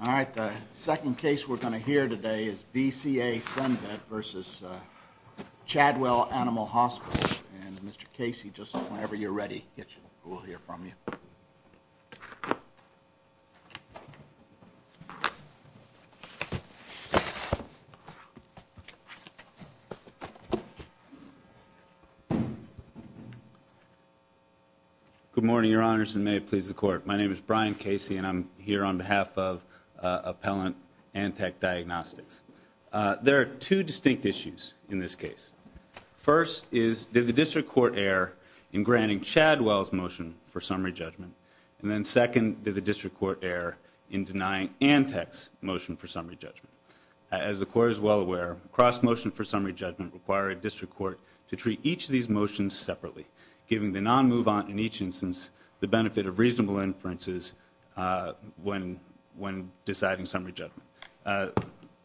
Alright, the second case we're going to hear today is VCA Cenvet versus Chadwell Animal Hospital, and Mr. Casey, just whenever you're ready, we'll hear from you. Good morning, Your Honors, and may it please the Court. My name is Brian Casey, and I'm here on behalf of Appellant Antec Diagnostics. There are two distinct issues in this case. First is, did the District Court err in granting Chadwell's motion for summary judgment? And then second, did the District Court err in denying Antec's motion for summary judgment? As the Court is well aware, cross-motion for summary judgment require a District Court to treat each of these motions separately, giving the non-move-on in each instance the benefit of reasonable inferences when deciding summary judgment.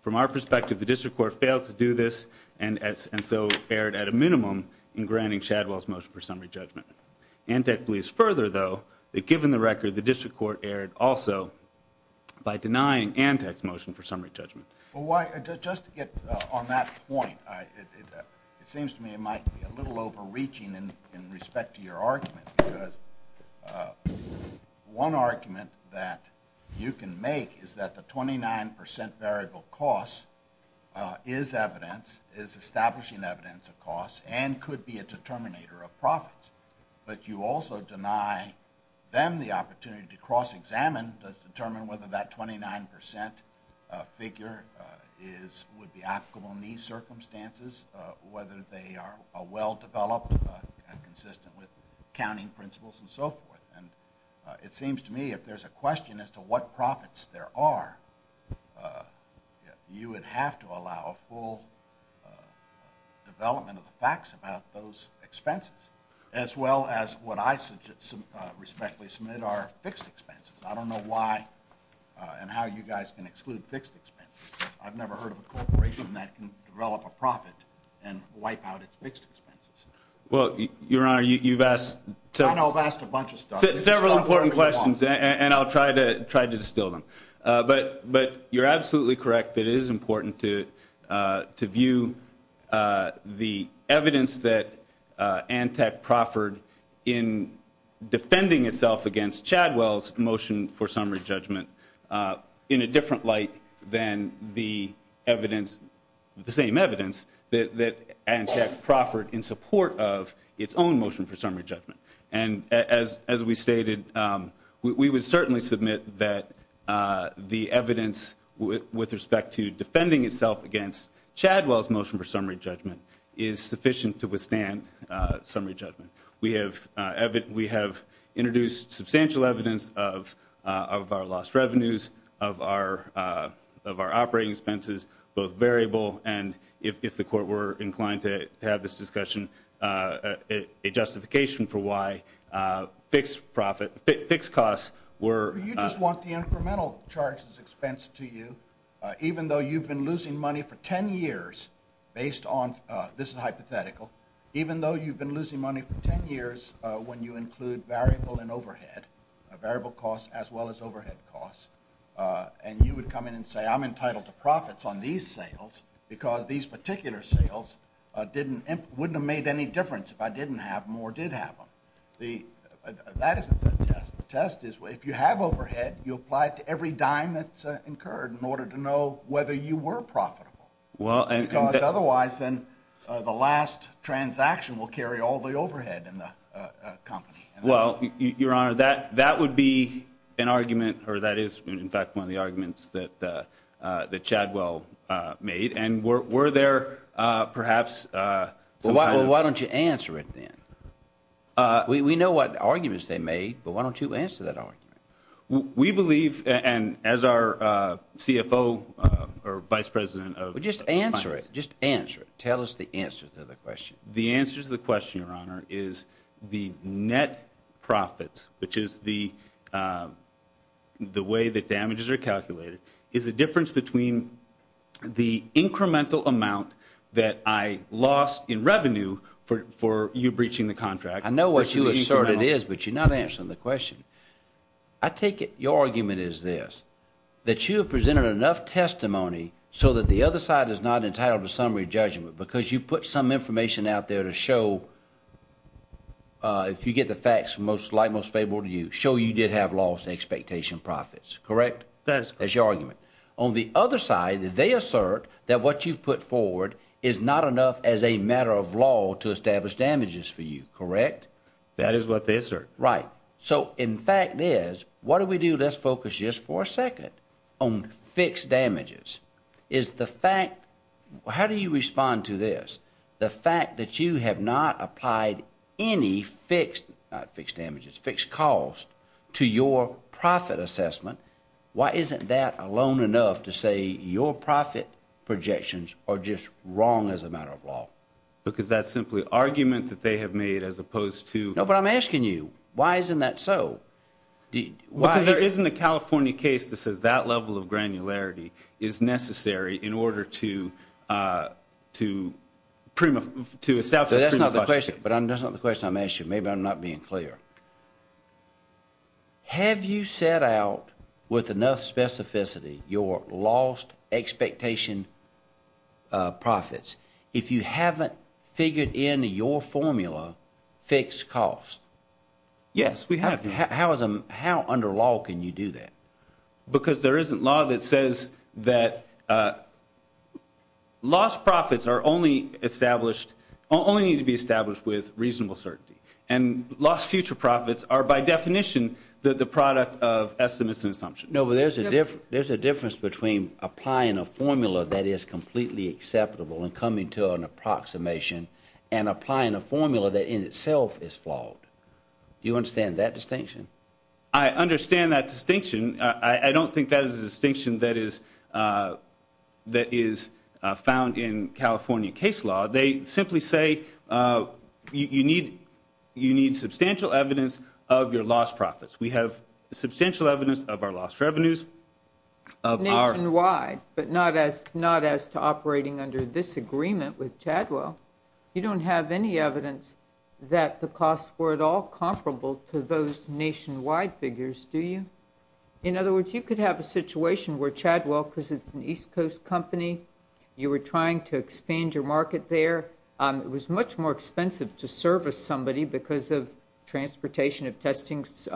From our perspective, the Court also erred at a minimum in granting Chadwell's motion for summary judgment. Antec believes further, though, that given the record, the District Court erred also by denying Antec's motion for summary judgment. Well, why, just to get on that point, it seems to me it might be a little overreaching in respect to your argument, because one argument that you can make is that the 29 percent variable cost is evidence, is establishing evidence of cost, and could be a determinator of profits. But you also deny them the opportunity to cross-examine to determine whether that 29 percent figure would be applicable in these circumstances, whether they are well-developed and consistent with accounting principles and so forth. And it seems to me if there's a question as to what profits there are, you would have to allow a full development of the facts about those expenses, as well as what I respectfully submit are fixed expenses. I don't know why and how you guys can exclude fixed expenses. I've never heard of a corporation that can develop a profit and wipe out its fixed expenses. Well, Your Honor, you've asked several important questions, and I'll give you a chance to try to distill them. But you're absolutely correct that it is important to view the evidence that Antec proffered in defending itself against Chadwell's motion for summary judgment in a different light than the evidence, the same evidence, that Antec proffered in support of its own motion for summary judgment. And as we stated, we would certainly submit that the evidence with respect to defending itself against Chadwell's motion for summary judgment is sufficient to withstand summary judgment. We have introduced substantial evidence of our lost revenues, of our operating expenses, both variable and, if the Court were inclined to have this discussion, a justification for why fixed costs were You just want the incremental charges expensed to you, even though you've been losing money for 10 years, based on, this is hypothetical, even though you've been losing money for 10 years when you include variable and overhead, variable costs as well as overhead costs. And you would come in and say, I'm entitled to profits on these sales because these particular sales wouldn't have made any difference if I didn't have them or did have them. That isn't the test. The test is, if you have overhead, you apply it to every dime that's incurred in order to know whether you were profitable. Because otherwise, then the last transaction will carry all the overhead in the company. Well, Your Honor, that would be an argument, or that is, in fact, one of the arguments that Chadwell made. And were there perhaps some kind of Well, why don't you answer it then? We know what arguments they made, but why don't you answer that argument? We believe, and as our CFO or Vice President of Finance Just answer it. Just answer it. Tell us the answer to the question. The answer to the question, Your Honor, is the net profit, which is the way that damages are calculated, is the difference between the incremental amount that I lost in revenue for you breaching the contract I know what you assert it is, but you're not answering the question. I take it your argument is this, that you have presented enough testimony so that the other side is not entitled to summary judgment because you put some information out there to show, if you get the facts like you did have lost expectation profits, correct? That's your argument. On the other side, they assert that what you've put forward is not enough as a matter of law to establish damages for you, correct? That is what they assert. Right. So in fact is, what do we do? Let's focus just for a second on fixed damages. Is the fact, how do you respond to this? The fact that you have not applied any fixed damages, fixed cost to your profit assessment, why isn't that alone enough to say your profit projections are just wrong as a matter of law? Because that's simply argument that they have made as opposed to No, but I'm asking you, why isn't that so? Because there isn't a California case that says that level of granularity is necessary in order to establish a prima facie But that's not the question I'm asking, maybe I'm not being clear. Have you set out with enough specificity your lost expectation profits? If you haven't figured in your formula fixed cost? Yes, we have. How under law can you do that? Because there isn't law that says that lost profits are only established, only need to be established with reasonable certainty. And lost future profits are by definition the product of estimates and assumptions. No, but there's a difference between applying a formula that is completely acceptable and coming to an approximation and applying a formula that in itself is flawed. Do you understand that distinction? I understand that distinction. I don't think that is a distinction that is found in California case law. They simply say you need substantial evidence of your lost profits. We have substantial evidence of our lost revenues. Nationwide, but not as to operating under this agreement with Chadwell. You don't have any evidence that the costs were at all comparable to those nationwide figures, do you? In other words, you could have a situation where Chadwell, because it's an East Coast company, you were trying to expand your market there. It was much more expensive to service somebody because of transportation, of testings,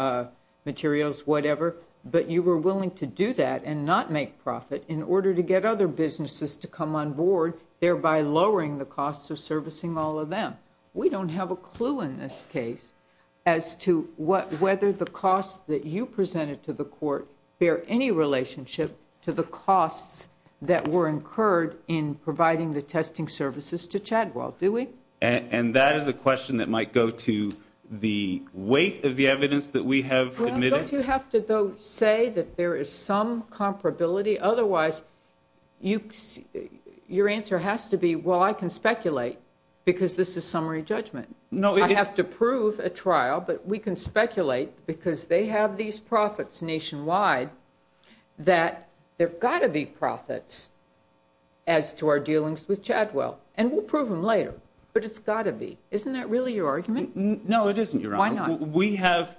materials, whatever. But you were willing to do that and not make profit in order to get other businesses to come on board, thereby lowering the costs of servicing all of them. We don't have a clue in this case as to whether the costs that you presented to the court bear any relationship to the costs that were incurred in providing the testing services to Chadwell, do we? And that is a question that might go to the weight of the evidence that we have admitted. Don't you have to, though, say that there is some comparability? Otherwise, your answer has to be, well, I can speculate because this is summary judgment. I have to prove a trial, but we can speculate because they have these profits nationwide that there have got to be profits as to our dealings with Chadwell. And we'll prove them later, but it's got to be. Isn't that really your argument? No, it isn't, Your Honor. Why not?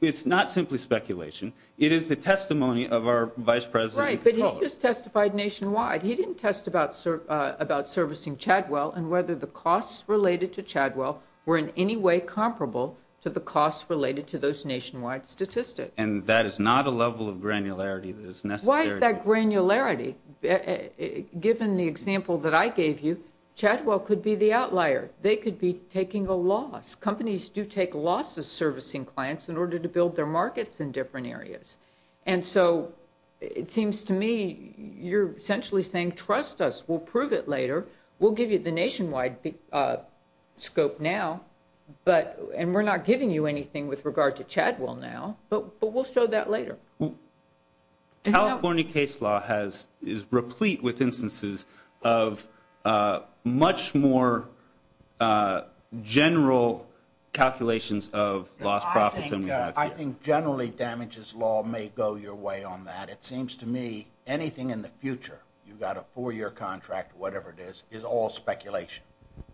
It's not simply speculation. It is the testimony of our Vice President. Right, but he just testified nationwide. He didn't test about servicing Chadwell and whether the costs related to Chadwell were in any way comparable to the costs related to those nationwide statistics. And that is not a level of granularity that is necessary. Why is that granularity? Given the example that I gave you, Chadwell could be the outlier. They could be taking a loss. Companies do take losses servicing clients in order to build their markets in different areas. And so it seems to me you're essentially saying, trust us, we'll prove it later, we'll give you the nationwide scope now, and we're not giving you anything with regard to Chadwell now, but we'll show that later. California case law is replete with instances of much more general calculations of lost profits than we have here. I think generally damages law may go your way on that. It seems to me anything in the four-year contract, whatever it is, is all speculation.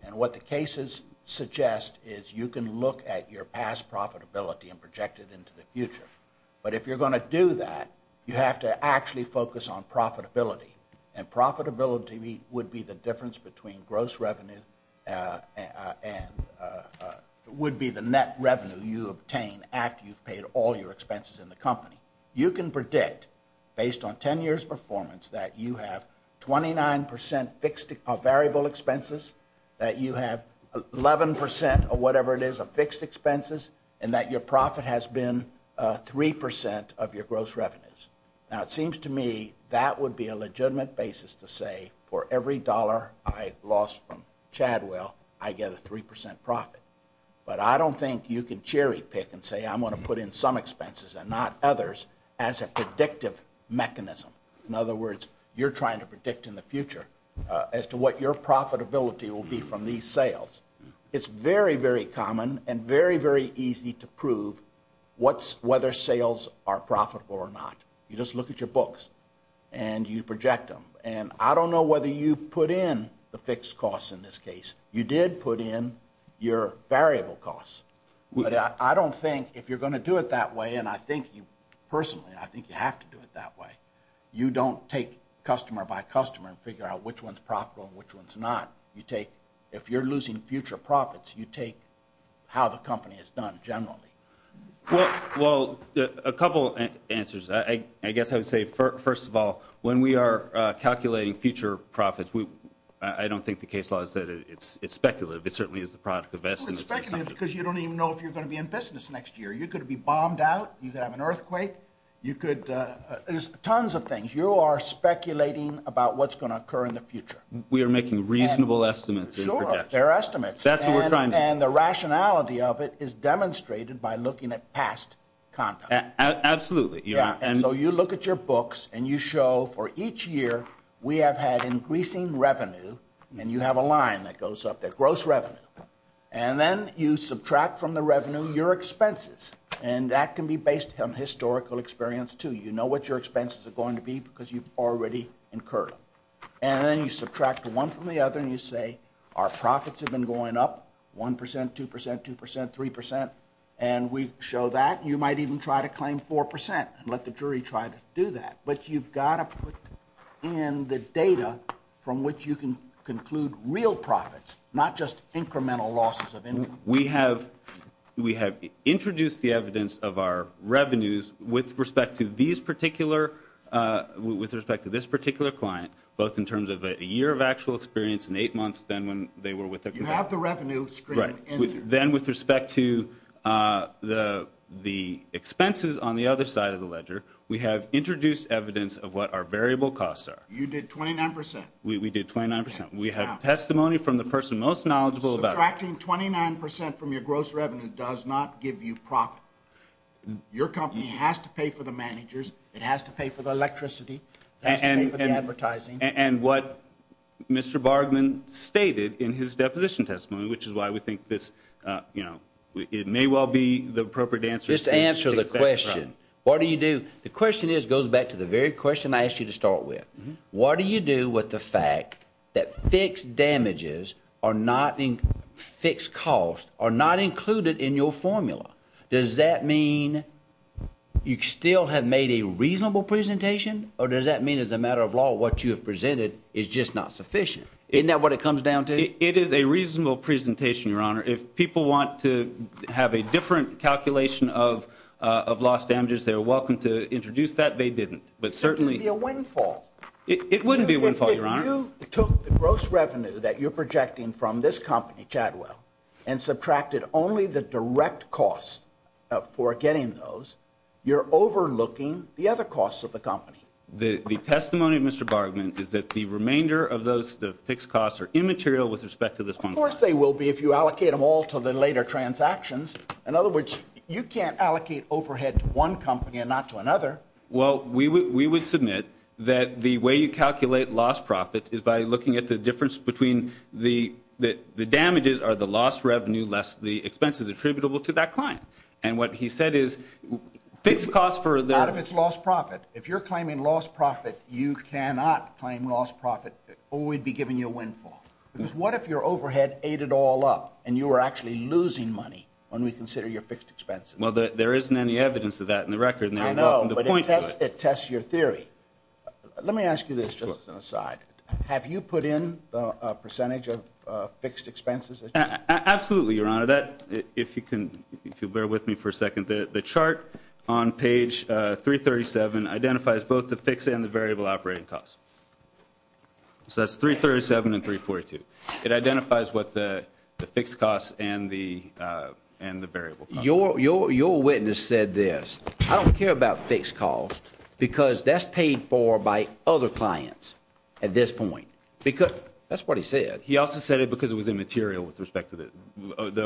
And what the cases suggest is you can look at your past profitability and project it into the future. But if you're going to do that, you have to actually focus on profitability. And profitability would be the difference between gross revenue and would be the net revenue you obtain after you've paid all your expenses in the company. You can predict, based on 10 years' performance, that you have 29% fixed or variable expenses, that you have 11% of whatever it is of fixed expenses, and that your profit has been 3% of your gross revenues. Now it seems to me that would be a legitimate basis to say for every dollar I lost from Chadwell, I get a 3% profit. But I don't think you can cherry pick and say I'm going to put in some expenses and not others as a predictive mechanism. In other words, you're trying to predict in the future as to what your profitability will be from these sales. It's very, very common and very, very easy to prove whether sales are profitable or not. You just look at your books and you project them. And I don't know whether you put in the fixed costs in this case. You did put in your variable costs. But I don't think if you're going to do it that way, and I think you personally, I think you have to do it that way, you don't take customer by customer and figure out which one's profitable and which one's not. If you're losing future profits, you take how the company has done generally. Well, a couple answers. I guess I would say, first of all, when we are calculating future profits, I don't think the case law is that it's speculative. It is because you don't even know if you're going to be in business next year. You could be bombed out, you could have an earthquake, you could, there's tons of things. You are speculating about what's going to occur in the future. We are making reasonable estimates and projections. Sure, they're estimates. That's what we're trying to do. And the rationality of it is demonstrated by looking at past conduct. Absolutely. And so you look at your books and you show for each year we have had increasing revenue, and you have a line that goes up to gross revenue. And then you subtract from the revenue your expenses. And that can be based on historical experience, too. You know what your expenses are going to be because you've already incurred them. And then you subtract one from the other and you say, our profits have been going up 1%, 2%, 2%, 3%. And we show that. You might even try to claim 4% and let the jury try to do that. But you've got to put in the data from which you can include real profits, not just incremental losses of income. We have introduced the evidence of our revenues with respect to these particular, with respect to this particular client, both in terms of a year of actual experience and eight months then when they were with the client. You have the revenue stream in there. Right. Then with respect to the expenses on the other side of the ledger, we have introduced evidence of what our variable costs are. You did 29%. We did 29%. We have testimony from the person most knowledgeable about it. Subtracting 29% from your gross revenue does not give you profit. Your company has to pay for the managers. It has to pay for the electricity. It has to pay for the advertising. And what Mr. Bargmann stated in his deposition testimony, which is why we think this, you know, it may well be the appropriate answer. Just answer the question. What do you do? The question is, goes back to the very question I asked you to start with. What do you do with the fact that fixed damages are not in fixed costs, are not included in your formula? Does that mean you still have made a reasonable presentation? Or does that mean as a matter of law, what you have presented is just not sufficient? Isn't that what it comes down to? It is a reasonable presentation, Your Honor. If people want to have a different calculation of lost damages, they are welcome to introduce that. They didn't. But certainly... It would be a windfall. It wouldn't be a windfall, Your Honor. If you took the gross revenue that you're projecting from this company, Chadwell, and subtracted only the direct cost for getting those, you're overlooking the other costs of the company. The testimony of Mr. Bargmann is that the remainder of those, the fixed costs, are immaterial with respect to this one. Of course they will be if you allocate them all to the later transactions. In other words, you can't allocate overhead to one company and not to another. Well, we would submit that the way you calculate lost profit is by looking at the difference between the damages are the lost revenue less the expenses attributable to that client. And what he said is, fixed costs for... Not if it's lost profit. If you're claiming lost profit, you cannot claim lost profit or we'd be giving you a windfall. Because if your overhead ate it all up and you were actually losing money when we consider your fixed expenses? Well, there isn't any evidence of that in the record. I know, but it tests your theory. Let me ask you this, just as an aside. Have you put in a percentage of fixed expenses? Absolutely, Your Honor. If you can bear with me for a second. The chart on page 337 identifies both the fixed and the variable operating costs. So that's 337 and 342. It identifies what the fixed costs and the variable costs. Your witness said this, I don't care about fixed costs because that's paid for by other clients at this point. That's what he said. He also said it because it was immaterial with respect to the...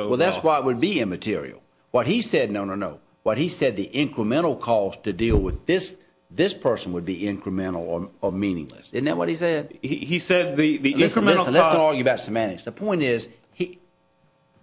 Well, that's why it would be immaterial. What he said, no, no, no. What he said, the incremental cost to deal with this person would be incremental or meaningless. Isn't that what he said? He said the incremental cost... Listen, let's not argue about semantics. The point is,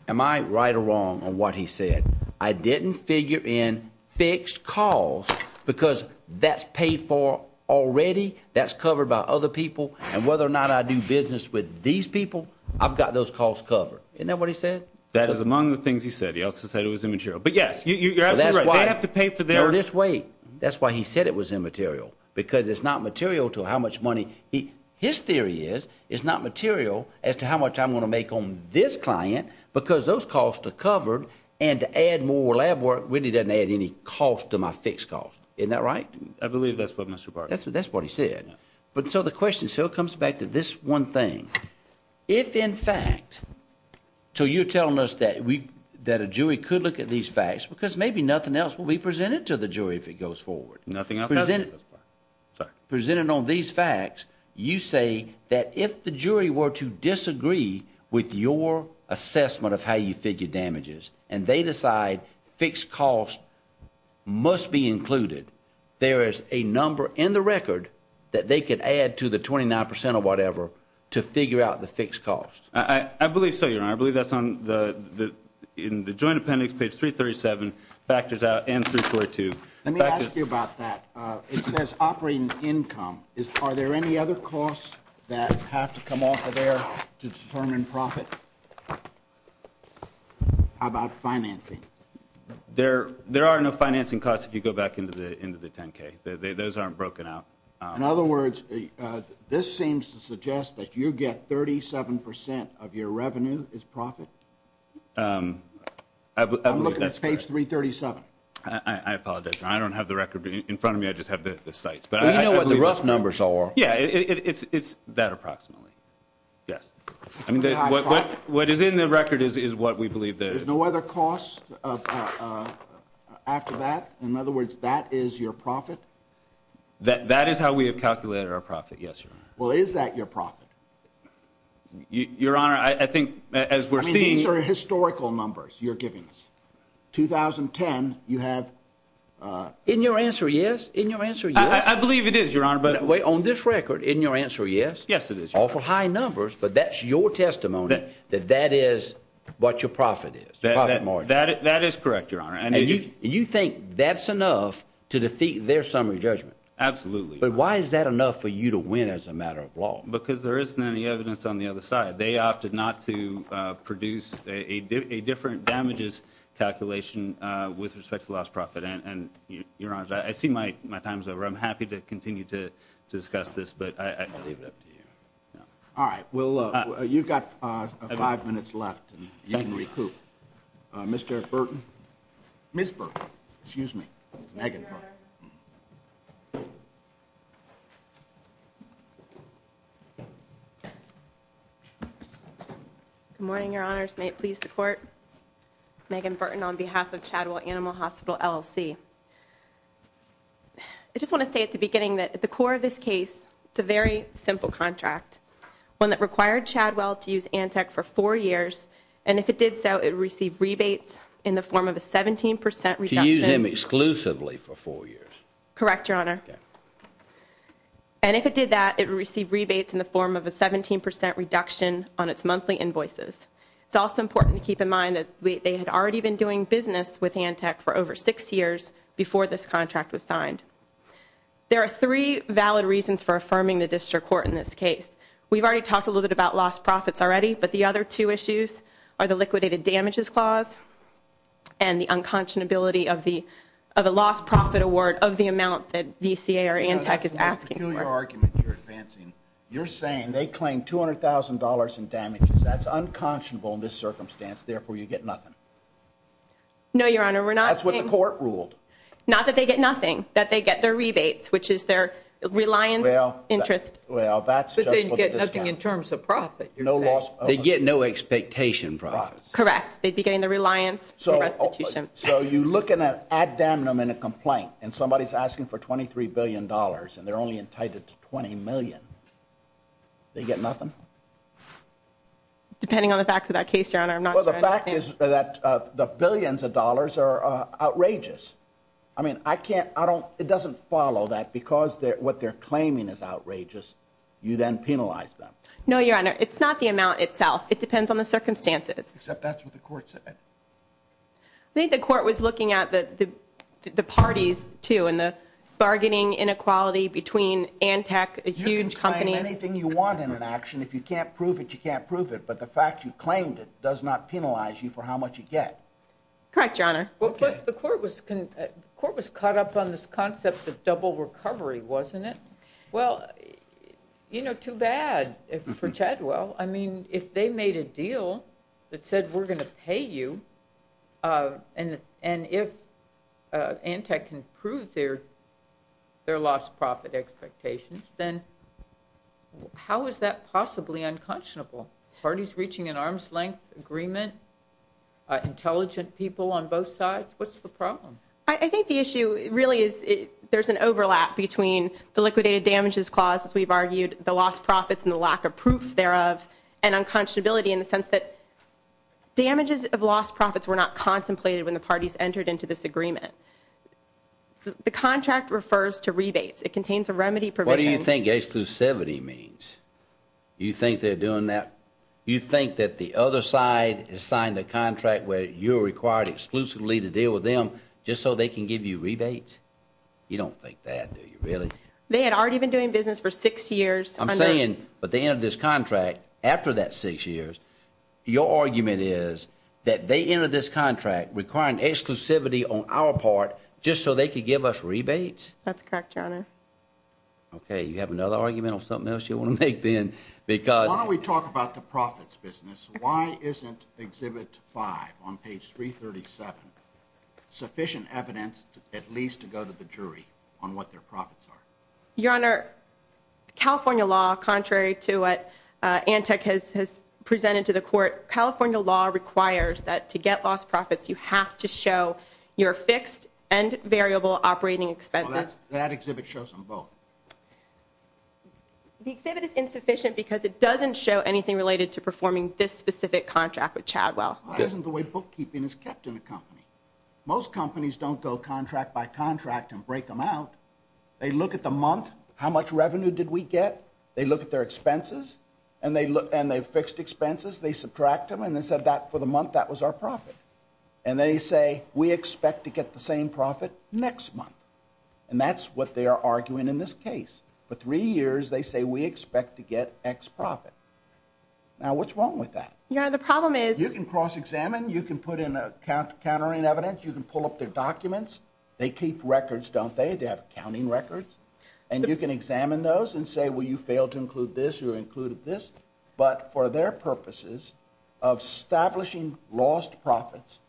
am I right or wrong on what he said? I didn't figure in fixed costs because that's paid for already, that's covered by other people, and whether or not I do business with these people, I've got those costs covered. Isn't that what he said? That is among the things he said. He also said it was immaterial. But yes, you're absolutely right. They have to pay for their... Now, let's wait. That's why he said it was immaterial, because it's not material to how much money... His theory is, it's not material as to how much I'm going to make on this client because those costs are covered, and to add more lab work really doesn't add any cost to my fixed cost. Isn't that right? I believe that's what Mr. Bartlett... That's what he said. But so the question still comes back to this one thing. If in fact... So you're telling us that a jury could look at these facts because maybe nothing else will be presented to the jury if it goes forward. Nothing else has been presented. Presented on these facts, you say that if the jury were to disagree with your assessment of how you figure damages, and they decide fixed costs must be included, there is a number in the record that they could add to the 29% or whatever to figure out the fixed cost. I believe so, Your Honor. I believe that's on the... In the joint appendix, page 337, factors out... And 342. Let me ask you about that. It says operating income. Are there any other costs that have to come off of there to determine profit? How about financing? There are no financing costs if you go back into the 10K. Those aren't broken out. In other words, this seems to suggest that you get 37% of your revenue is profit? I believe that's correct. I'm looking at page 337. I apologize, Your Honor. I don't have the record in front of me. I just have the sites. Well, you know what the rough numbers are. Yeah, it's that approximately. Yes. What is in the record is what we believe that... There's no other cost after that? In other words, that is your profit? That is how we have calculated our profit, yes, Your Honor. Well, is that your profit? Your Honor, I think as we're seeing... I mean, these are historical numbers you're giving us. 2010, you have... In your answer, yes. In your answer, yes. I believe it is, Your Honor, but... On this record, in your answer, yes? Yes, it is, Your Honor. Awful high numbers, but that's your testimony that that is what your profit is, the profit margin. That is correct, Your Honor. And you think that's enough to defeat their summary judgment? Absolutely. But why is that enough for you to win as a matter of law? Because there isn't any evidence on the other side. They opted not to produce a different damages calculation with respect to lost profit. And Your Honor, I see my time's over. I'm happy to continue to discuss this, but I leave it up to you. All right. Well, you've got five minutes left, and you can recoup. Mr. Burton. Ms. Burton. Excuse me. Megan Burton. Good morning, Your Honors. May it please the Court. Megan Burton on behalf of Chadwell Animal Hospital, LLC. I just want to say at the beginning that at the core of this case, it's a very simple contract, one that required Chadwell to use Antec for four years, and if it did so, it would receive rebates in the form of a 17% reduction. To use them exclusively for four years? Correct, Your Honor. And if it did that, it would receive rebates in the form of a 17% reduction on its monthly invoices. It's also important to keep in mind that they had already been doing business with Antec for over six years before this contract was signed. There are three valid reasons for affirming the District Court in this case. We've already talked a little bit about lost profits already, but the other two issues are the liquidated damages clause and the unconscionability of a lost profit award of the amount that VCA or Antec is asking for. That's a peculiar argument you're advancing. You're saying they claim $200,000 in damages. That's unconscionable in this circumstance. Therefore, you get nothing. No, Your Honor. We're not saying— They get their rebates, which is their reliance interest. Well, that's just for the discount. But they'd get nothing in terms of profit, you're saying. No lost profits. They'd get no expectation profits. Correct. They'd be getting the reliance for restitution. So you look at an ad damnum in a complaint, and somebody's asking for $23 billion, and they're only entitled to $20 million. They get nothing? Depending on the facts of that case, Your Honor, I'm not sure I understand. Well, the fact is that the billions of dollars are outrageous. I mean, it doesn't follow that because what they're claiming is outrageous, you then penalize them. No, Your Honor. It's not the amount itself. It depends on the circumstances. Except that's what the court said. I think the court was looking at the parties, too, and the bargaining inequality between Antec, a huge company— You can claim anything you want in an action. If you can't prove it, you can't prove it. But the fact you claimed it does not Correct, Your Honor. Well, plus the court was caught up on this concept of double recovery, wasn't it? Well, you know, too bad for Chadwell. I mean, if they made a deal that said, we're going to pay you, and if Antec can prove their lost profit expectations, then how is that possibly unconscionable? Parties reaching an arm's length agreement, intelligent people on both sides, what's the problem? I think the issue really is there's an overlap between the liquidated damages clause, as we've argued, the lost profits and the lack of proof thereof, and unconscionability in the sense that damages of lost profits were not contemplated when the parties entered into this agreement. The contract refers to rebates. It contains a remedy provision— What do you think H-270 means? You think they're doing that? You think that the other side has signed a contract where you're required exclusively to deal with them just so they can give you rebates? You don't think that, do you, really? They had already been doing business for six years. I'm saying, but they entered this contract after that six years. Your argument is that they entered this contract requiring exclusivity on our part just so they could give us rebates? That's correct, Your Honor. Okay, you have another argument on something else you want to make, then, because— Why don't we talk about the profits business? Why isn't Exhibit 5 on page 337 sufficient evidence at least to go to the jury on what their profits are? Your Honor, California law, contrary to what Antec has presented to the court, California law requires that to get lost profits, you have to show your fixed and variable operating expenses. That exhibit shows them both. The exhibit is insufficient because it doesn't show anything related to performing this specific contract with Chadwell. That isn't the way bookkeeping is kept in a company. Most companies don't go contract by contract and break them out. They look at the month, how much revenue did we get? They look at their expenses, and they've fixed expenses. They subtract them, and they said that for the month, that was our profit. And they say, we expect to get the same profit next month. And that's what they are arguing in this case. For three years, they say we expect to get X profit. Now, what's wrong with that? Your Honor, the problem is— You can cross-examine. You can put in a countering evidence. You can pull up their documents. They keep records, don't they? They have accounting records. And you can examine those and say, well, you failed to include this. You included this. But for their purposes of establishing lost profits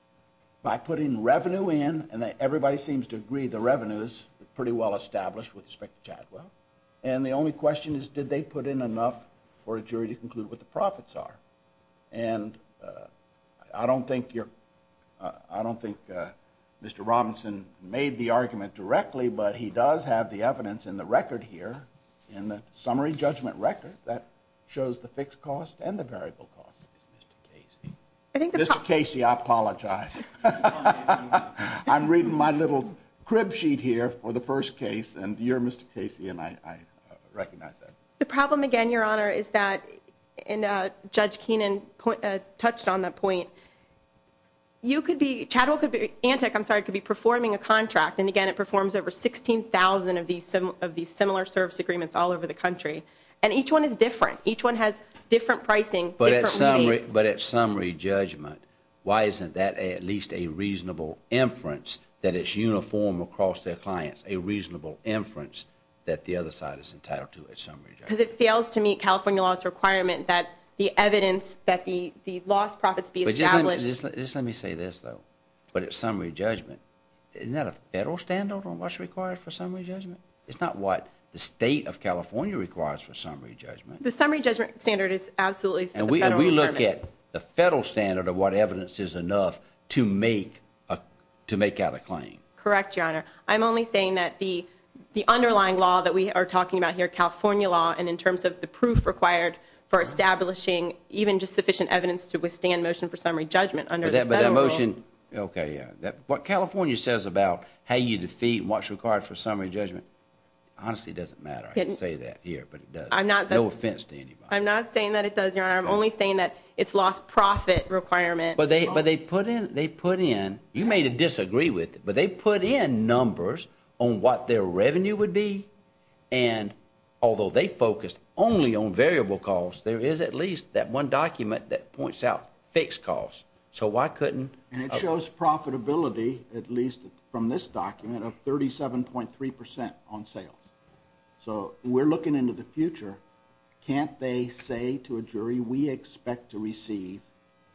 by putting revenue in, and everybody seems to agree the revenue is pretty well established with respect to Chadwell. And the only question is, did they put in enough for a jury to conclude what the profits are? And I don't think you're—I don't think Mr. Robinson made the argument directly, but he does have the evidence in the record here, in the summary judgment record, that shows the fixed cost and the variable cost, Mr. Casey. Mr. Casey, I apologize. I'm reading my little crib sheet here for the first case, and you're Mr. Casey, and I recognize that. The problem, again, Your Honor, is that, and Judge Keenan touched on that point, you could be—Chadwell could be—Antec, I'm sorry, could be performing a contract, and again, it performs over 16,000 of these similar service agreements all over the country. And each one is different. Each one has different pricing, but at summary judgment, why isn't that at least a reasonable inference that it's uniform across their clients, a reasonable inference that the other side is entitled to at summary judgment? Because it fails to meet California law's requirement that the evidence that the lost profits be established— But just let me say this, though. But at summary judgment, isn't that a federal standard on what's required for summary judgment? It's not what the state of California requires for summary judgment. The summary judgment standard is absolutely the federal requirement. And we look at the federal standard of what evidence is enough to make out a claim. Correct, Your Honor. I'm only saying that the underlying law that we are talking about here, California law, and in terms of the proof required for establishing even just sufficient evidence to withstand motion for summary judgment under the federal rule— Okay, yeah. What California says about how you defeat and what's required for summary judgment, honestly doesn't matter. I didn't say that here, but it does. No offense to anybody. I'm not saying that it does, Your Honor. I'm only saying that it's lost profit requirement. But they put in—you may disagree with it, but they put in numbers on what their revenue would be, and although they focused only on variable costs, there is at least that one document that points out fixed costs. So why couldn't— And it shows profitability, at least from this document, of 37.3 percent on sales. So we're looking into the future. Can't they say to a jury, we expect to receive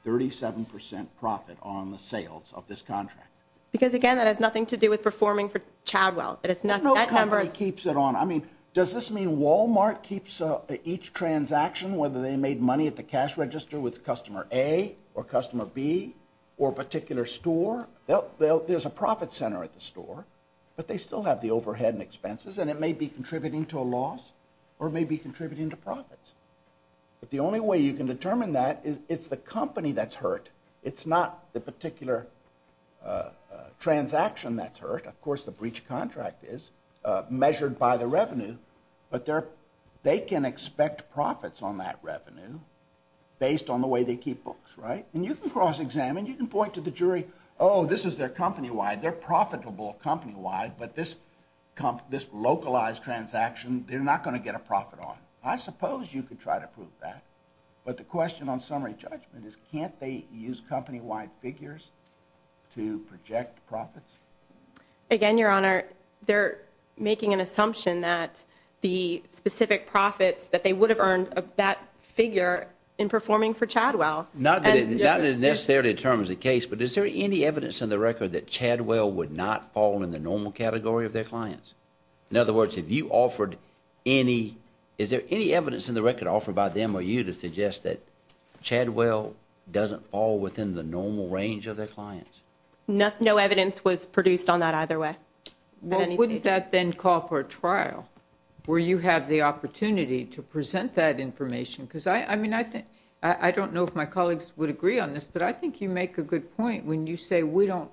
37 percent profit on the sales of this contract? Because again, that has nothing to do with performing for child wealth. It's not— No company keeps it on. I mean, does this mean Walmart keeps each transaction, whether they made money at the cash register with customer A or customer B or a particular store? There's a profit center at the store, but they still have the overhead and expenses, and it may be contributing to a loss or may be contributing to profits. But the only way you can determine that is it's the company that's hurt. It's not the particular transaction that's hurt. Of course, the breach contract is measured by the way they keep books, right? And you can cross-examine. You can point to the jury, oh, this is their company-wide. They're profitable company-wide, but this localized transaction, they're not going to get a profit on. I suppose you could try to prove that, but the question on summary judgment is can't they use company-wide figures to project profits? Again, Your Honor, they're making an assumption that the specific profits that they would have of that figure in performing for Chadwell. Not that it necessarily determines the case, but is there any evidence in the record that Chadwell would not fall in the normal category of their clients? In other words, if you offered any, is there any evidence in the record offered by them or you to suggest that Chadwell doesn't fall within the normal range of their clients? No evidence was produced on that either way. Well, wouldn't that then call for a trial where you have the opportunity to present that information? I don't know if my colleagues would agree on this, but I think you make a good point when you say we don't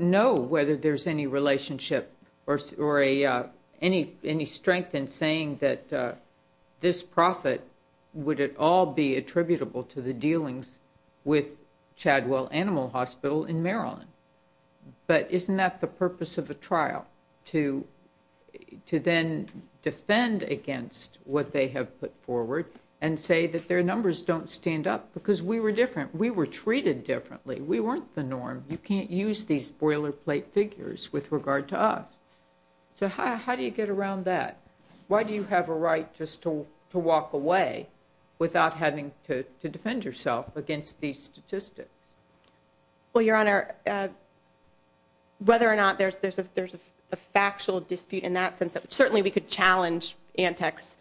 know whether there's any relationship or any strength in saying that this profit, would it all be attributable to the dealings with Chadwell Animal Hospital in Maryland? But isn't that the purpose of a trial, to then defend against what they have put forward and say that their numbers don't stand up? Because we were different. We were treated differently. We weren't the norm. You can't use these boilerplate figures with regard to us. So how do you get around that? Why do you have a right just to walk away without having to defend yourself against these statistics? Well, Your Honor, whether or not there's a factual dispute in that sense, certainly we could challenge Antec's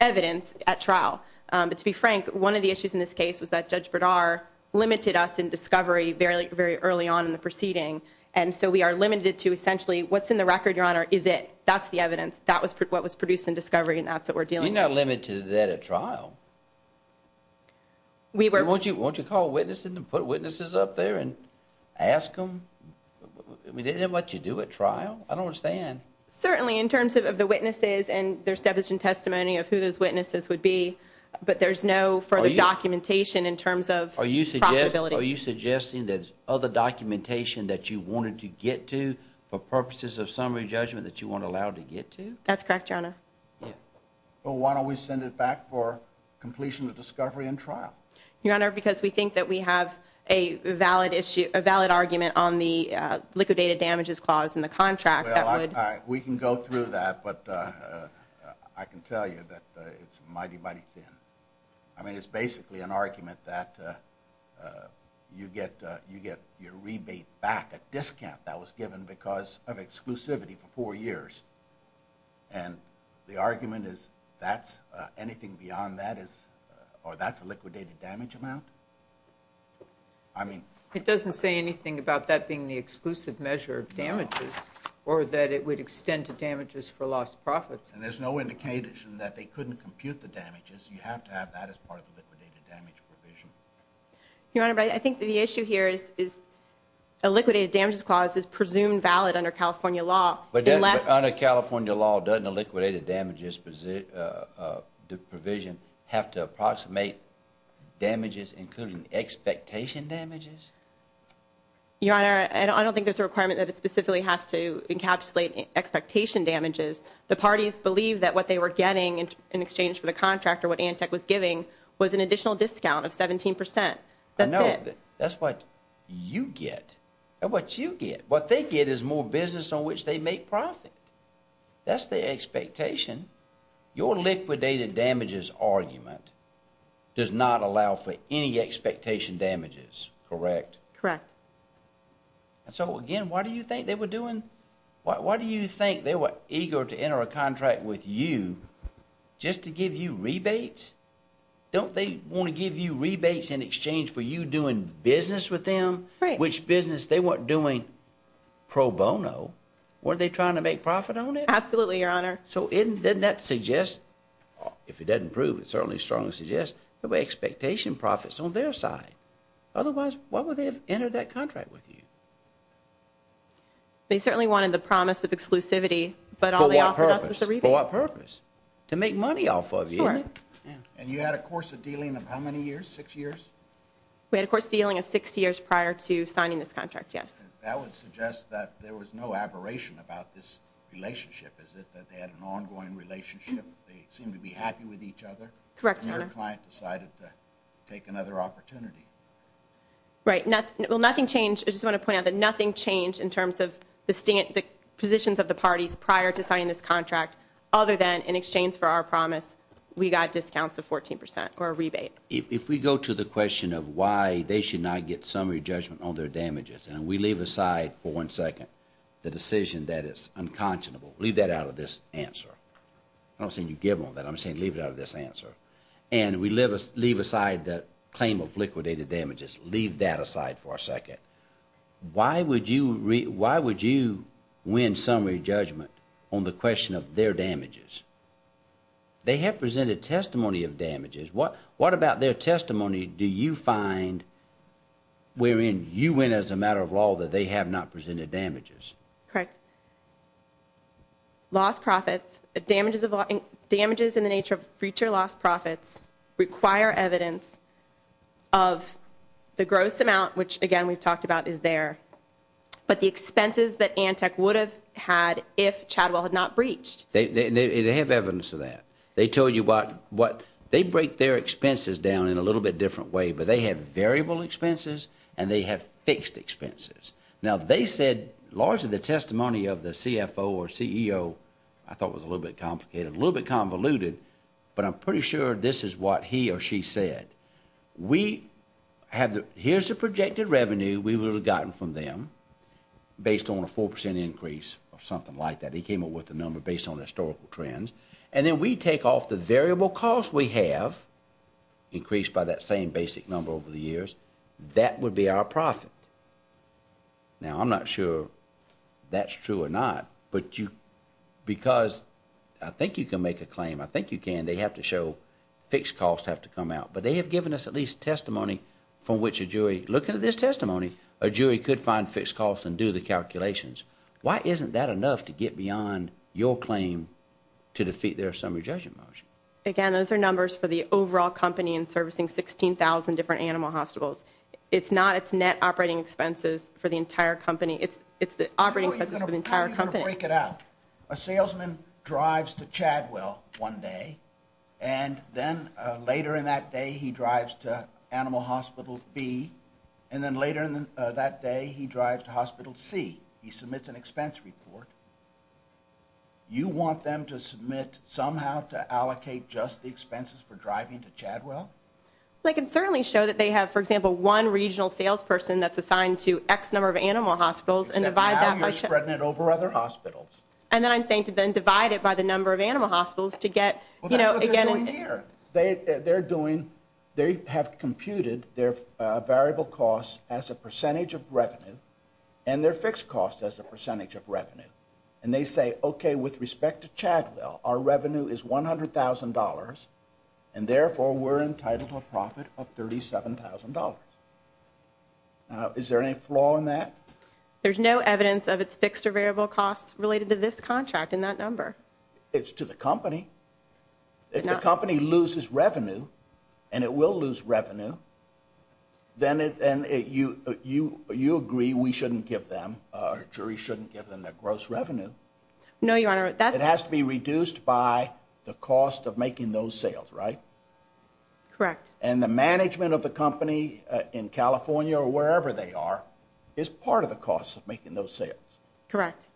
evidence at trial. But to be frank, one of the issues in this case was that Judge Bradar limited us in discovery very early on in the proceeding. And so we are limited to essentially what's in the record, Your Honor, is it. That's the evidence. That was what was produced in discovery and that's what we're dealing with. You're not limited to that at trial. We were. Won't you call witnesses and put witnesses up there and ask them? I mean, they didn't let you do a trial? I don't understand. Certainly in terms of the witnesses and there's deficient testimony of who those witnesses would be. But there's no further documentation in terms of. Are you suggesting there's other documentation that you wanted to get to for purposes of summary judgment that you weren't allowed to get to? That's correct, Your Honor. Well, why don't we send it back for completion of discovery and trial, Your Honor? Because we think that we have a valid issue, a valid argument on the liquidated damages clause in the contract that we can go through that. But I can tell you that it's mighty, mighty thin. I mean, it's basically an argument that you get you get your rebate back at discount that was the argument is that's anything beyond that is or that's a liquidated damage amount. I mean, it doesn't say anything about that being the exclusive measure of damages or that it would extend to damages for lost profits. And there's no indication that they couldn't compute the damages. You have to have that as part of the liquidated damage provision. Your Honor, I think the issue here is is a liquidated damages clause is presumed valid under California law. But under California law, doesn't a liquidated damages provision have to approximate damages, including expectation damages? Your Honor, I don't think there's a requirement that it specifically has to encapsulate expectation damages. The parties believe that what they were getting in exchange for the contract or what Antec was giving was an additional discount of 17 percent. That's what you get and what you get, what they get is more business on which they make profit. That's the expectation. Your liquidated damages argument does not allow for any expectation damages, correct? Correct. And so again, why do you think they were doing? Why do you think they were eager to enter a business with them, which business they weren't doing pro bono? Were they trying to make profit on it? Absolutely, Your Honor. So didn't that suggest, if it doesn't prove, it certainly strongly suggests the way expectation profits on their side. Otherwise, why would they have entered that contract with you? They certainly wanted the promise of exclusivity. But for what purpose? For what purpose? To make money off of you. And you had a course of dealing of how many years? Six years? We had a course of dealing of six years prior to signing this contract, yes. That would suggest that there was no aberration about this relationship. Is it that they had an ongoing relationship? They seemed to be happy with each other? Correct, Your Honor. And your client decided to take another opportunity? Right. Well, nothing changed. I just want to point out that nothing changed in terms of the positions of the parties prior to signing this contract other than in exchange for our promise, we got discounts of 14 percent or a rebate. If we go to the question of why they should not get summary judgment on their damages, and we leave aside for one second the decision that is unconscionable. Leave that out of this answer. I'm not saying you give them that. I'm saying leave it out of this answer. And we leave aside the claim of liquidated damages. Leave that aside for a second. Why would you win summary judgment on the question of their damages? They have presented testimony of damages. What about their testimony do you find wherein you win as a matter of law that they have not presented damages? Correct. Loss profits, damages in the nature of future loss profits require evidence of the gross amount, which again we've talked about is there, but the expenses that Antec would have had if Chadwell had not breached. They have evidence of that. They told you what, they break their expenses down in a little bit different way, but they have variable expenses and they have fixed expenses. Now they said largely the testimony of the CFO or CEO, I thought was a little bit complicated, a little bit convoluted, but I'm pretty sure this is what he or she said. Here's the projected revenue we would have gotten from them based on a 4 percent increase or something like that. He came up with the number based on historical trends. And then we take off the variable cost we have increased by that same basic number over the years. That would be our profit. Now I'm not sure that's true or not, but you, because I think you can make a claim, I think you can, they have to show fixed costs have to come out. But they have given us at least testimony from which a jury, looking at this testimony, a jury could find fixed costs and do the calculations. Why isn't that enough to get beyond your claim to defeat their summary judgment motion? Again, those are numbers for the overall company and servicing 16,000 different animal hospitals. It's not its net operating expenses for the entire company. It's the operating expenses for the entire company. Break it out. A salesman drives to Chadwell one day and then later in that day he drives to animal hospital B and then later in that day he drives to hospital C. He submits an expense report. You want them to submit somehow to allocate just the expenses for driving to Chadwell? They can certainly show that they have, for example, one regional salesperson that's assigned to X number of animal hospitals and divide that by... You said now you're spreading it over other hospitals. And then I'm saying to then divide it by the number of animal hospitals to get, you know, again... That's what they're doing here. They have computed their variable costs as a percentage of revenue and their fixed costs as a percentage of revenue. And they say, okay, with respect to Chadwell, our revenue is $100,000 and therefore we're entitled to a profit of $37,000. Is there any flaw in that? There's no evidence of its fixed or variable costs related to this contract in that number. It's to the company. If the company loses revenue and it will lose revenue, then you agree we shouldn't give them, our jury shouldn't give them their gross revenue. No, Your Honor. It has to be reduced by the cost of making those sales, right? Correct. And the management of the company in California or wherever they are is part of the cost of making those sales. Correct.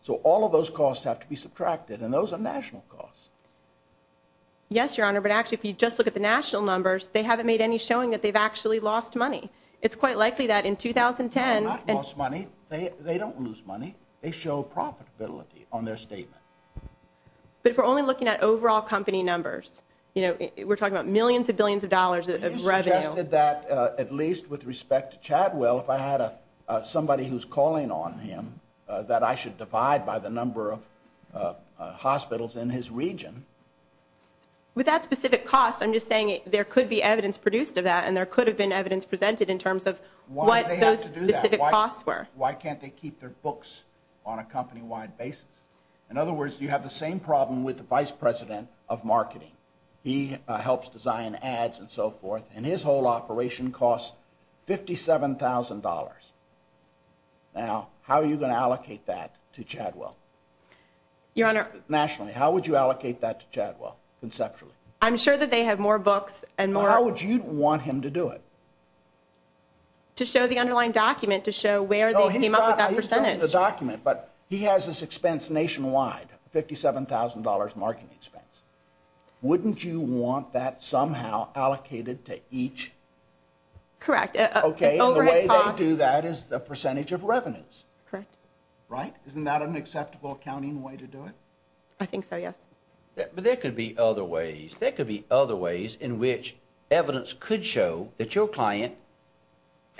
So all of those costs have to be subtracted and those are national costs. Yes, Your Honor. But actually, if you just look at the national numbers, they haven't made any showing that they've actually lost money. It's quite likely that in 2010... They have not lost money. They don't lose money. They show profitability on their statement. But if we're only looking at overall company numbers, you know, we're talking about millions of billions of dollars of revenue... You suggested that, at least with respect to Chadwell, if I had somebody who's calling on him that I should divide by the number of hospitals in his region... With that specific cost, I'm just saying there could be evidence produced of that and there could have been evidence presented in terms of what those specific costs were. Why can't they keep their books on a company-wide basis? In other words, you have the same problem with the Vice President of Marketing. He helps design ads and so forth and his whole operation costs $57,000. Now, how are you going to allocate that to Chadwell? Your Honor... Nationally, how would you allocate that to Chadwell, conceptually? I'm sure that they have more books and more... How would you want him to do it? To show the underlying document, to show where they came up with that percentage. No, he's got the document, but he has this expense nationwide, $57,000 marketing expense. Wouldn't you want that somehow allocated to each... Correct. Okay, and the way they... Do that is the percentage of revenues. Correct. Right? Isn't that an acceptable accounting way to do it? I think so, yes. But there could be other ways. There could be other ways in which evidence could show that your client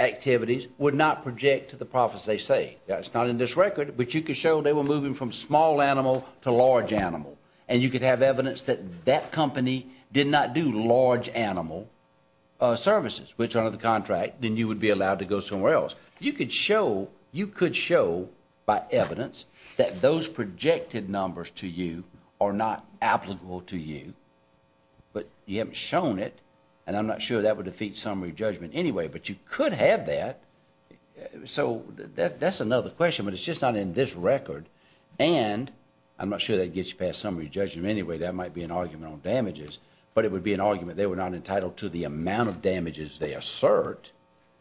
activities would not project to the profits they say. It's not in this record, but you could show they were moving from small animal to large animal and you could have evidence that that company did not do large animal services, which under the contract then you would be allowed to go somewhere else. You could show, you could show by evidence that those projected numbers to you are not applicable to you, but you haven't shown it and I'm not sure that would defeat summary judgment anyway, but you could have that. So that's another question, but it's just not in this record and I'm not sure that gets you past summary judgment anyway. That might be an argument on damages, but it would be an argument they were not entitled to the amount of damages they assert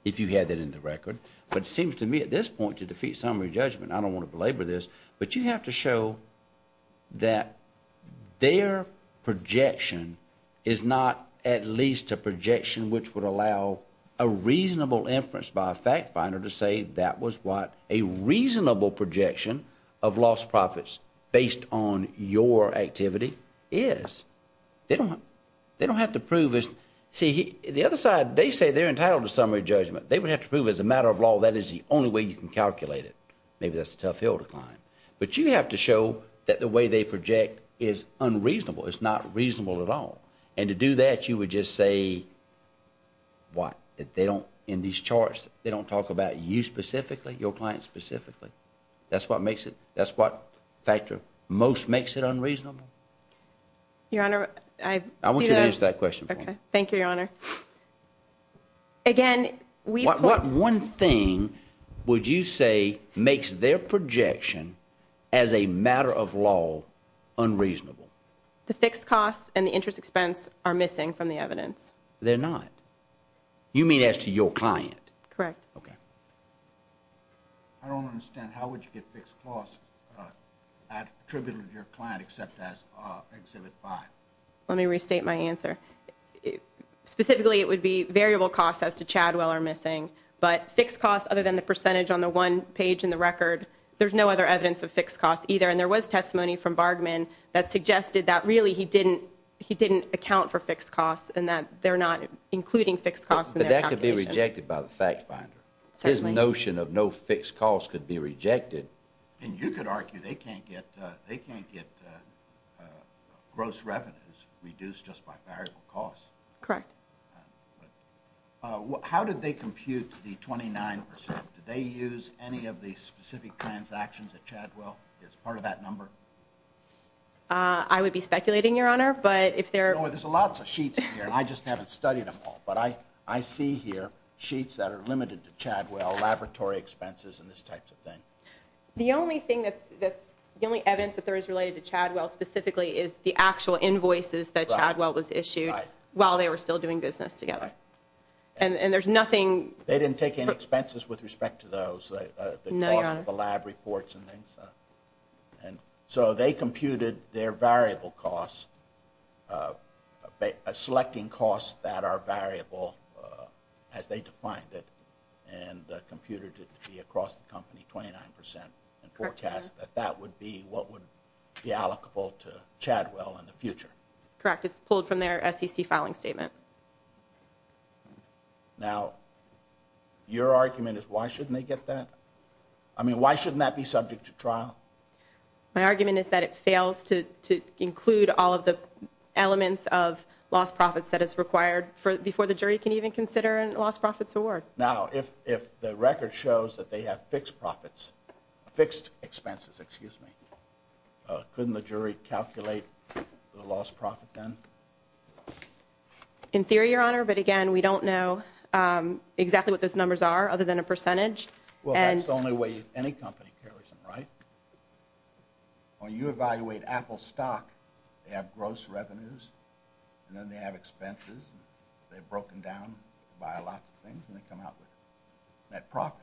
if you had that in the record, but it seems to me at this point to defeat summary judgment, I don't want to belabor this, but you have to show that their projection is not at least a projection which would allow a reasonable inference by a fact finder to say that was what a reasonable projection of lost profits based on your activity is. They don't, they don't have to prove this. See, the other side, they say they're entitled to summary judgment. They would have to prove as a matter of law that is the only way you can calculate it. Maybe that's a tough hill to climb, but you have to show that the way they project is unreasonable. It's not reasonable at all and to do that you would just say what? That they don't, in these charts, they don't talk about you specifically, your client specifically. That's what makes it, that's what factor most makes it unreasonable. Your Honor, I want you to answer that question. Okay, thank you, Your Honor. Again, we, what one thing would you say makes their projection as a matter of law unreasonable? The fixed costs and the interest expense are missing from the evidence. They're not. You mean as to your client? Correct. Okay. I don't understand how would you get fixed costs attributable to your client except as exhibit five. Let me restate my answer. Specifically, it would be variable costs as to Chadwell are missing, but fixed costs other than the percentage on the one page in the record, there's no other evidence of fixed costs either. And there was testimony from Bargmann that suggested that really he didn't, he didn't account for fixed costs and that they're not including fixed costs. But that could be rejected by the fact finder. His notion of no fixed costs could be rejected. And you could argue they can't get, they can't get gross revenues reduced just by variable costs. Correct. How did they compute the 29%? Did they use any of the specific transactions at Chadwell as part of that number? I would be speculating, Your Honor, but if there... No, there's a lot of sheets here. I just haven't studied them all. But I, I see here sheets that are limited to Chadwell, laboratory expenses and this type of thing. The only thing that's, the only evidence that there is related to Chadwell specifically is the actual invoices that Chadwell was issued while they were still doing business together. And, and there's nothing... They didn't take any expenses with respect to those, the cost of the lab reports and things. And so they computed their variable costs, selecting costs that are variable as they defined it, and computed it to be across the company, 29%, and forecast that that would be what would be allocable to Chadwell in the future. Correct. It's pulled from their SEC filing statement. Now, your argument is why shouldn't they get that? I mean, why shouldn't that be subject to trial? My argument is that it fails to, to include all of the elements of lost profits that is required for, before the jury can even consider a lost profits award. Now, if, if the record shows that they have fixed profits, fixed expenses, excuse me, couldn't the jury calculate the lost profit then? In theory, your honor, but again, we don't know exactly what those numbers are other than a percentage. Well, that's the only way any company carries them, right? When you evaluate Apple stock, they have gross revenues, and then they have expenses, they've broken down by lots of things, and they come out with net profit,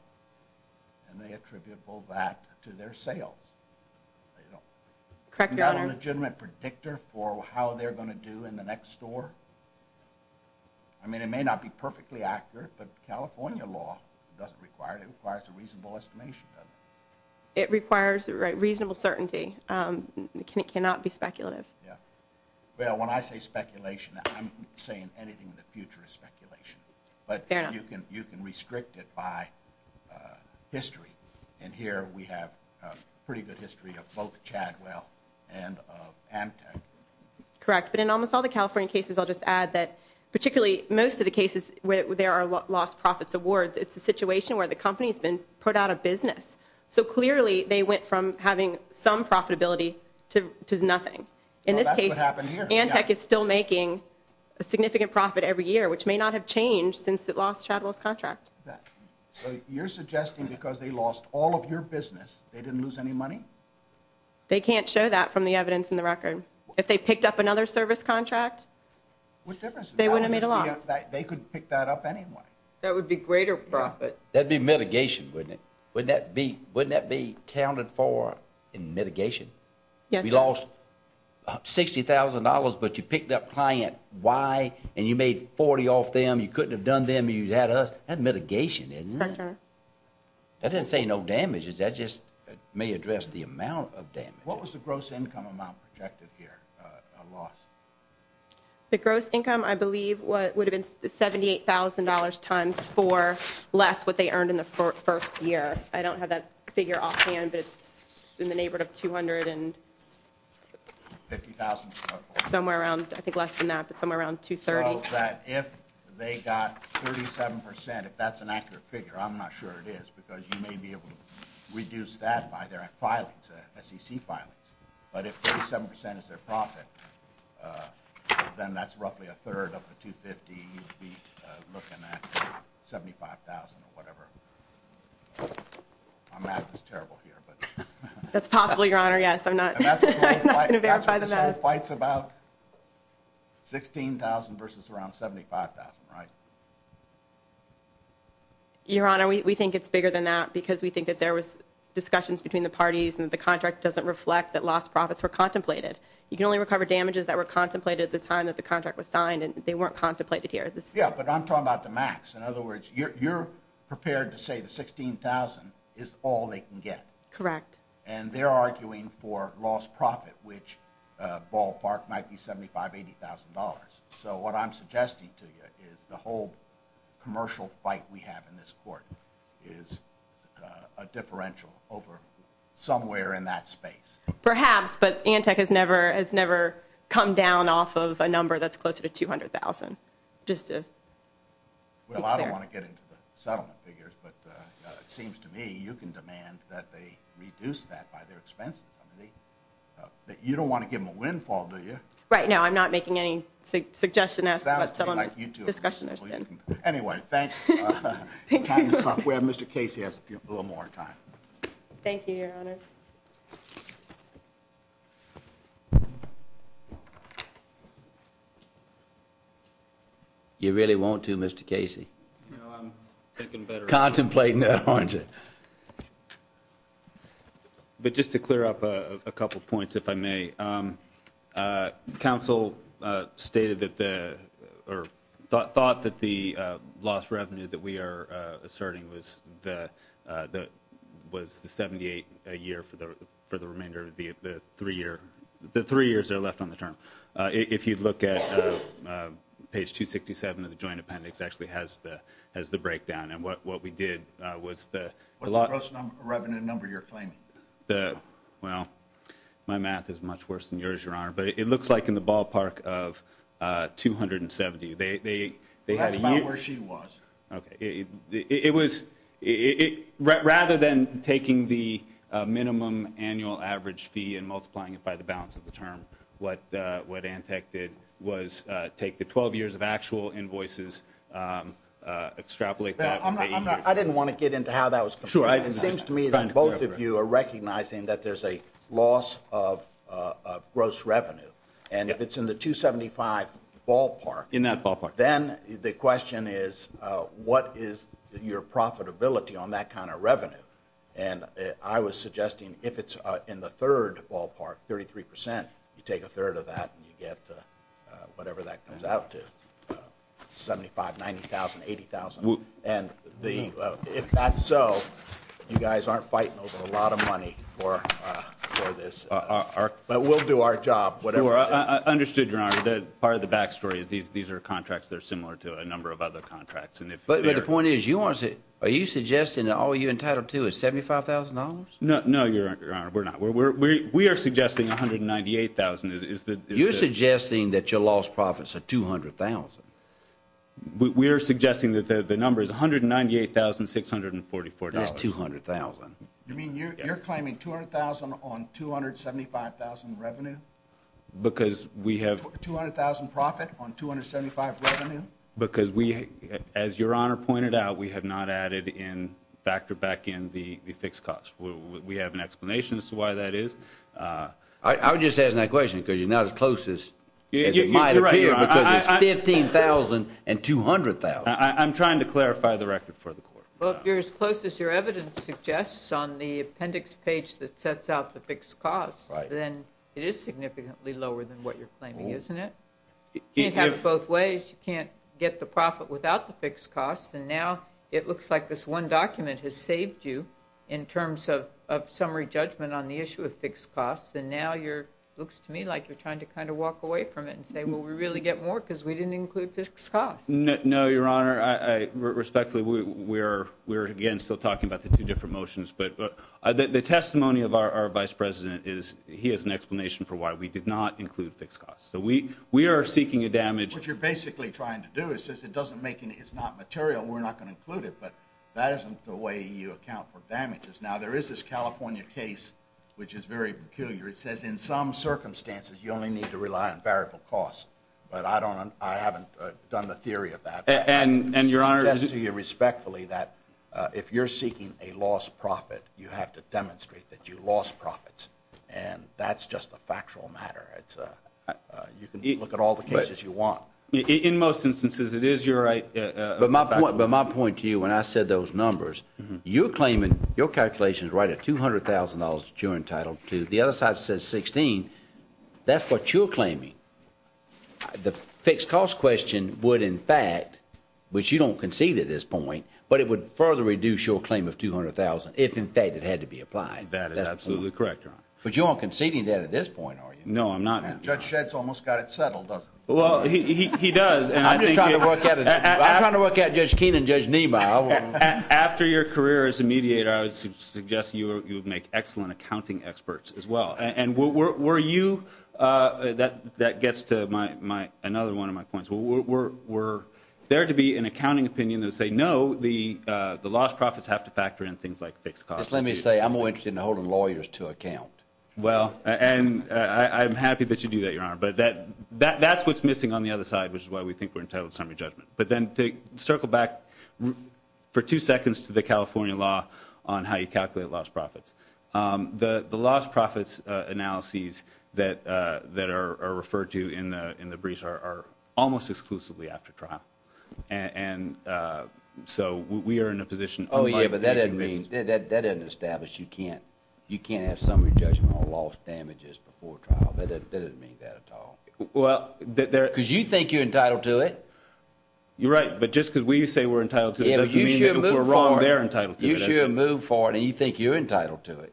and they attributable that to their sales. Correct, your honor. It's not a legitimate predictor for how they're going to do in the next store. I mean, it may not be perfectly accurate, but California law doesn't require, it requires a reasonable estimation, doesn't it? It requires reasonable certainty. It cannot be speculative. Yeah. Well, when I say speculation, I'm saying anything in the future is speculation. But you can, you can restrict it by history. And here we have a pretty good history of both Chadwell and of Amtech. Correct. But in almost all the California cases, I'll just add that particularly most of the cases where there are lost profits awards, it's a situation where the company's been put out of business. In this case, Amtech is still making a significant profit every year, which may not have changed since it lost Chadwell's contract. So you're suggesting because they lost all of your business, they didn't lose any money? They can't show that from the evidence in the record. If they picked up another service contract, they wouldn't have made a loss. They could pick that up anyway. That would be greater profit. That'd be mitigation, wouldn't it? Wouldn't that be counted for in mitigation? You lost $60,000, but you picked up client Y and you made 40 off them. You couldn't have done them. You had us. That's mitigation, isn't it? That doesn't say no damage. That just may address the amount of damage. What was the gross income amount projected here? A loss? The gross income, I believe, would have been $78,000 times four less what they earned in the first year. I don't have that figure off hand, but it's in the neighborhood of $250,000. Somewhere around, I think less than that, but somewhere around $230,000. So that if they got 37%, if that's an accurate figure, I'm not sure it is, because you may be able to reduce that by their filings, SEC filings. But if 37% is their profit, then that's roughly a third of the $250,000. You'd be looking at $75,000 or whatever. I'm at this terrible here, but... That's possible, Your Honor. Yes. I'm not going to verify the math. That's what this whole fight's about. $16,000 versus around $75,000, right? Your Honor, we think it's bigger than that because we think that there was discussions between the parties and the contract doesn't reflect that lost profits were contemplated. You can only recover damages that were contemplated at the time that the contract was signed and they weren't contemplated here. Yeah, but I'm talking about the max. In other words, you're prepared to say the $16,000 is all they can get. Correct. And they're arguing for lost profit, which ballpark might be $75,000, $80,000. So what I'm suggesting to you is the whole commercial fight we have in this court is a differential over somewhere in that space. Perhaps, but Antec has never come down off of a number that's closer to $200,000. Well, I don't want to get into the settlement figures, but it seems to me you can demand that they reduce that by their expenses. You don't want to give them a windfall, do you? Right. No, I'm not making any suggestion as to what settlement discussion there's been. Anyway, thanks. Time is up. We have Mr. Casey has a little more time. Thank you, Your Honor. You really won't do Mr Casey. Contemplate. No, aren't it? But just to clear up a couple of points, if I may, um, uh, council, uh, stated that the or thought that the, uh, lost revenue that we are, uh, asserting was the, uh, the was the 78 a year for the, for the remainder of the, the three year, the three years are left on the term. Uh, if you'd look at, uh, uh, page two 67 of the joint appendix actually has the, has the breakdown and what, what we did, uh, was the revenue number you're claiming the, well, my math is much worse than yours, Your Honor, but it looks like in the ballpark of, uh, 270, they, they, they had about where she was. Okay. It, it, it was it rather than taking the, uh, minimum annual average fee and multiplying it by the balance of the term. What, uh, what Antec did was, uh, take the 12 years of actual invoices, um, uh, extrapolate. I didn't want to get into how that was. It seems to me that both of you are recognizing that there's a loss of, uh, uh, gross revenue. And if it's in the two 75 ballpark in that ballpark, then the question is, uh, what is your profitability on that kind of revenue? And I was suggesting if it's in the third ballpark, 33%, you take a third of that and you get, uh, uh, whatever that comes out to 75, 90,000, 80,000. And the, uh, if that's so you guys aren't fighting over a lot of or, uh, or this, uh, our, but we'll do our job. I understood your honor. That part of the backstory is these, these are contracts that are similar to a number of other contracts. And if, but the point is you want to say, are you suggesting that all you entitled to is $75,000? No, no, your honor. We're not, we're, we're, we're, we are suggesting 198,000 is that you're suggesting that your loss profits are 200,000. We are suggesting that the number is 198,644. That's you mean you're, you're claiming 200,000 on 275,000 revenue because we have 200,000 profit on 275 revenue because we, as your honor pointed out, we have not added in factor back in the fixed cost. We have an explanation as to why that is. Uh, I would just ask that question because you're not as close as it might appear because it's 15,000 and 200,000. I'm trying to clarify the evidence suggests on the appendix page that sets out the fixed costs, then it is significantly lower than what you're claiming, isn't it? Can't have both ways. You can't get the profit without the fixed costs. And now it looks like this one document has saved you in terms of, of summary judgment on the issue of fixed costs. And now you're looks to me like you're trying to kind of walk away from it and say, well, we really get more because we didn't include this cost. No, your honor, respectfully, we're, we're again still talking about the two different motions, but the testimony of our vice president is he has an explanation for why we did not include fixed costs. So we, we are seeking a damage, which you're basically trying to do. It says it doesn't make any, it's not material. We're not going to include it, but that isn't the way you account for damages. Now there is this California case, which is very peculiar. It says in some circumstances, you only need to rely on variable costs, but I don't, I haven't done the theory of that and your honor to you respectfully that if you're seeking a lost profit, you have to demonstrate that you lost profits and that's just a factual matter. It's a, you can look at all the cases you want in most instances. It is your right. But my point, but my point to you, when I said those numbers, you're claiming your calculations, right at $200,000 during title two, the other side says 16, that's what you're claiming. The fixed cost question would in fact, which you don't concede at this point, but it would further reduce your claim of 200,000 if in fact it had to be applied. That is absolutely correct, your honor. But you aren't conceding that at this point, are you? No, I'm not. Judge Shed's almost got it settled, doesn't he? Well, he, he, he does. I'm just trying to work out, I'm trying to work out Judge Keenan, Judge Nima. After your career as a mediator, I would suggest you would make excellent accounting experts as well. And were, were, were you, uh, that, that gets to my, my, another one of my points. Were, were, were there to be an accounting opinion that would say, no, the, uh, the lost profits have to factor in things like fixed costs. Just let me say, I'm more interested in holding lawyers to account. Well, and I, I'm happy that you do that, your honor, but that, that, that's what's missing on the other side, which is why we think we're entitled summary judgment. But then to circle back for two seconds to the California law on how you calculate lost profits. Um, the, the lost profits, uh, analyses that, uh, that are, are referred to in the, in the briefs are, are almost exclusively after trial. And, uh, so we are in a position. Oh yeah, but that doesn't mean that, that, that doesn't establish you can't, you can't have summary judgment on lost damages before trial. That doesn't mean that at all. Well, there, there. Because you think you're entitled to it. You're right. But just because we say we're entitled to it doesn't mean that if we're wrong, you should move forward and you think you're entitled to it.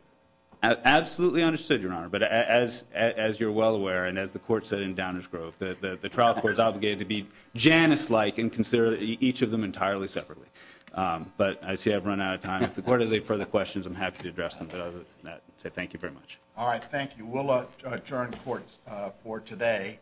Absolutely understood your honor. But as, as, as you're well aware, and as the court said in Downers Grove, the, the, the trial court is obligated to be Janice like and consider each of them entirely separately. Um, but I see I've run out of time. If the court has any further questions, I'm happy to address them. But other than that, say, thank you very much. All right. Thank you. We'll adjourn courts for today.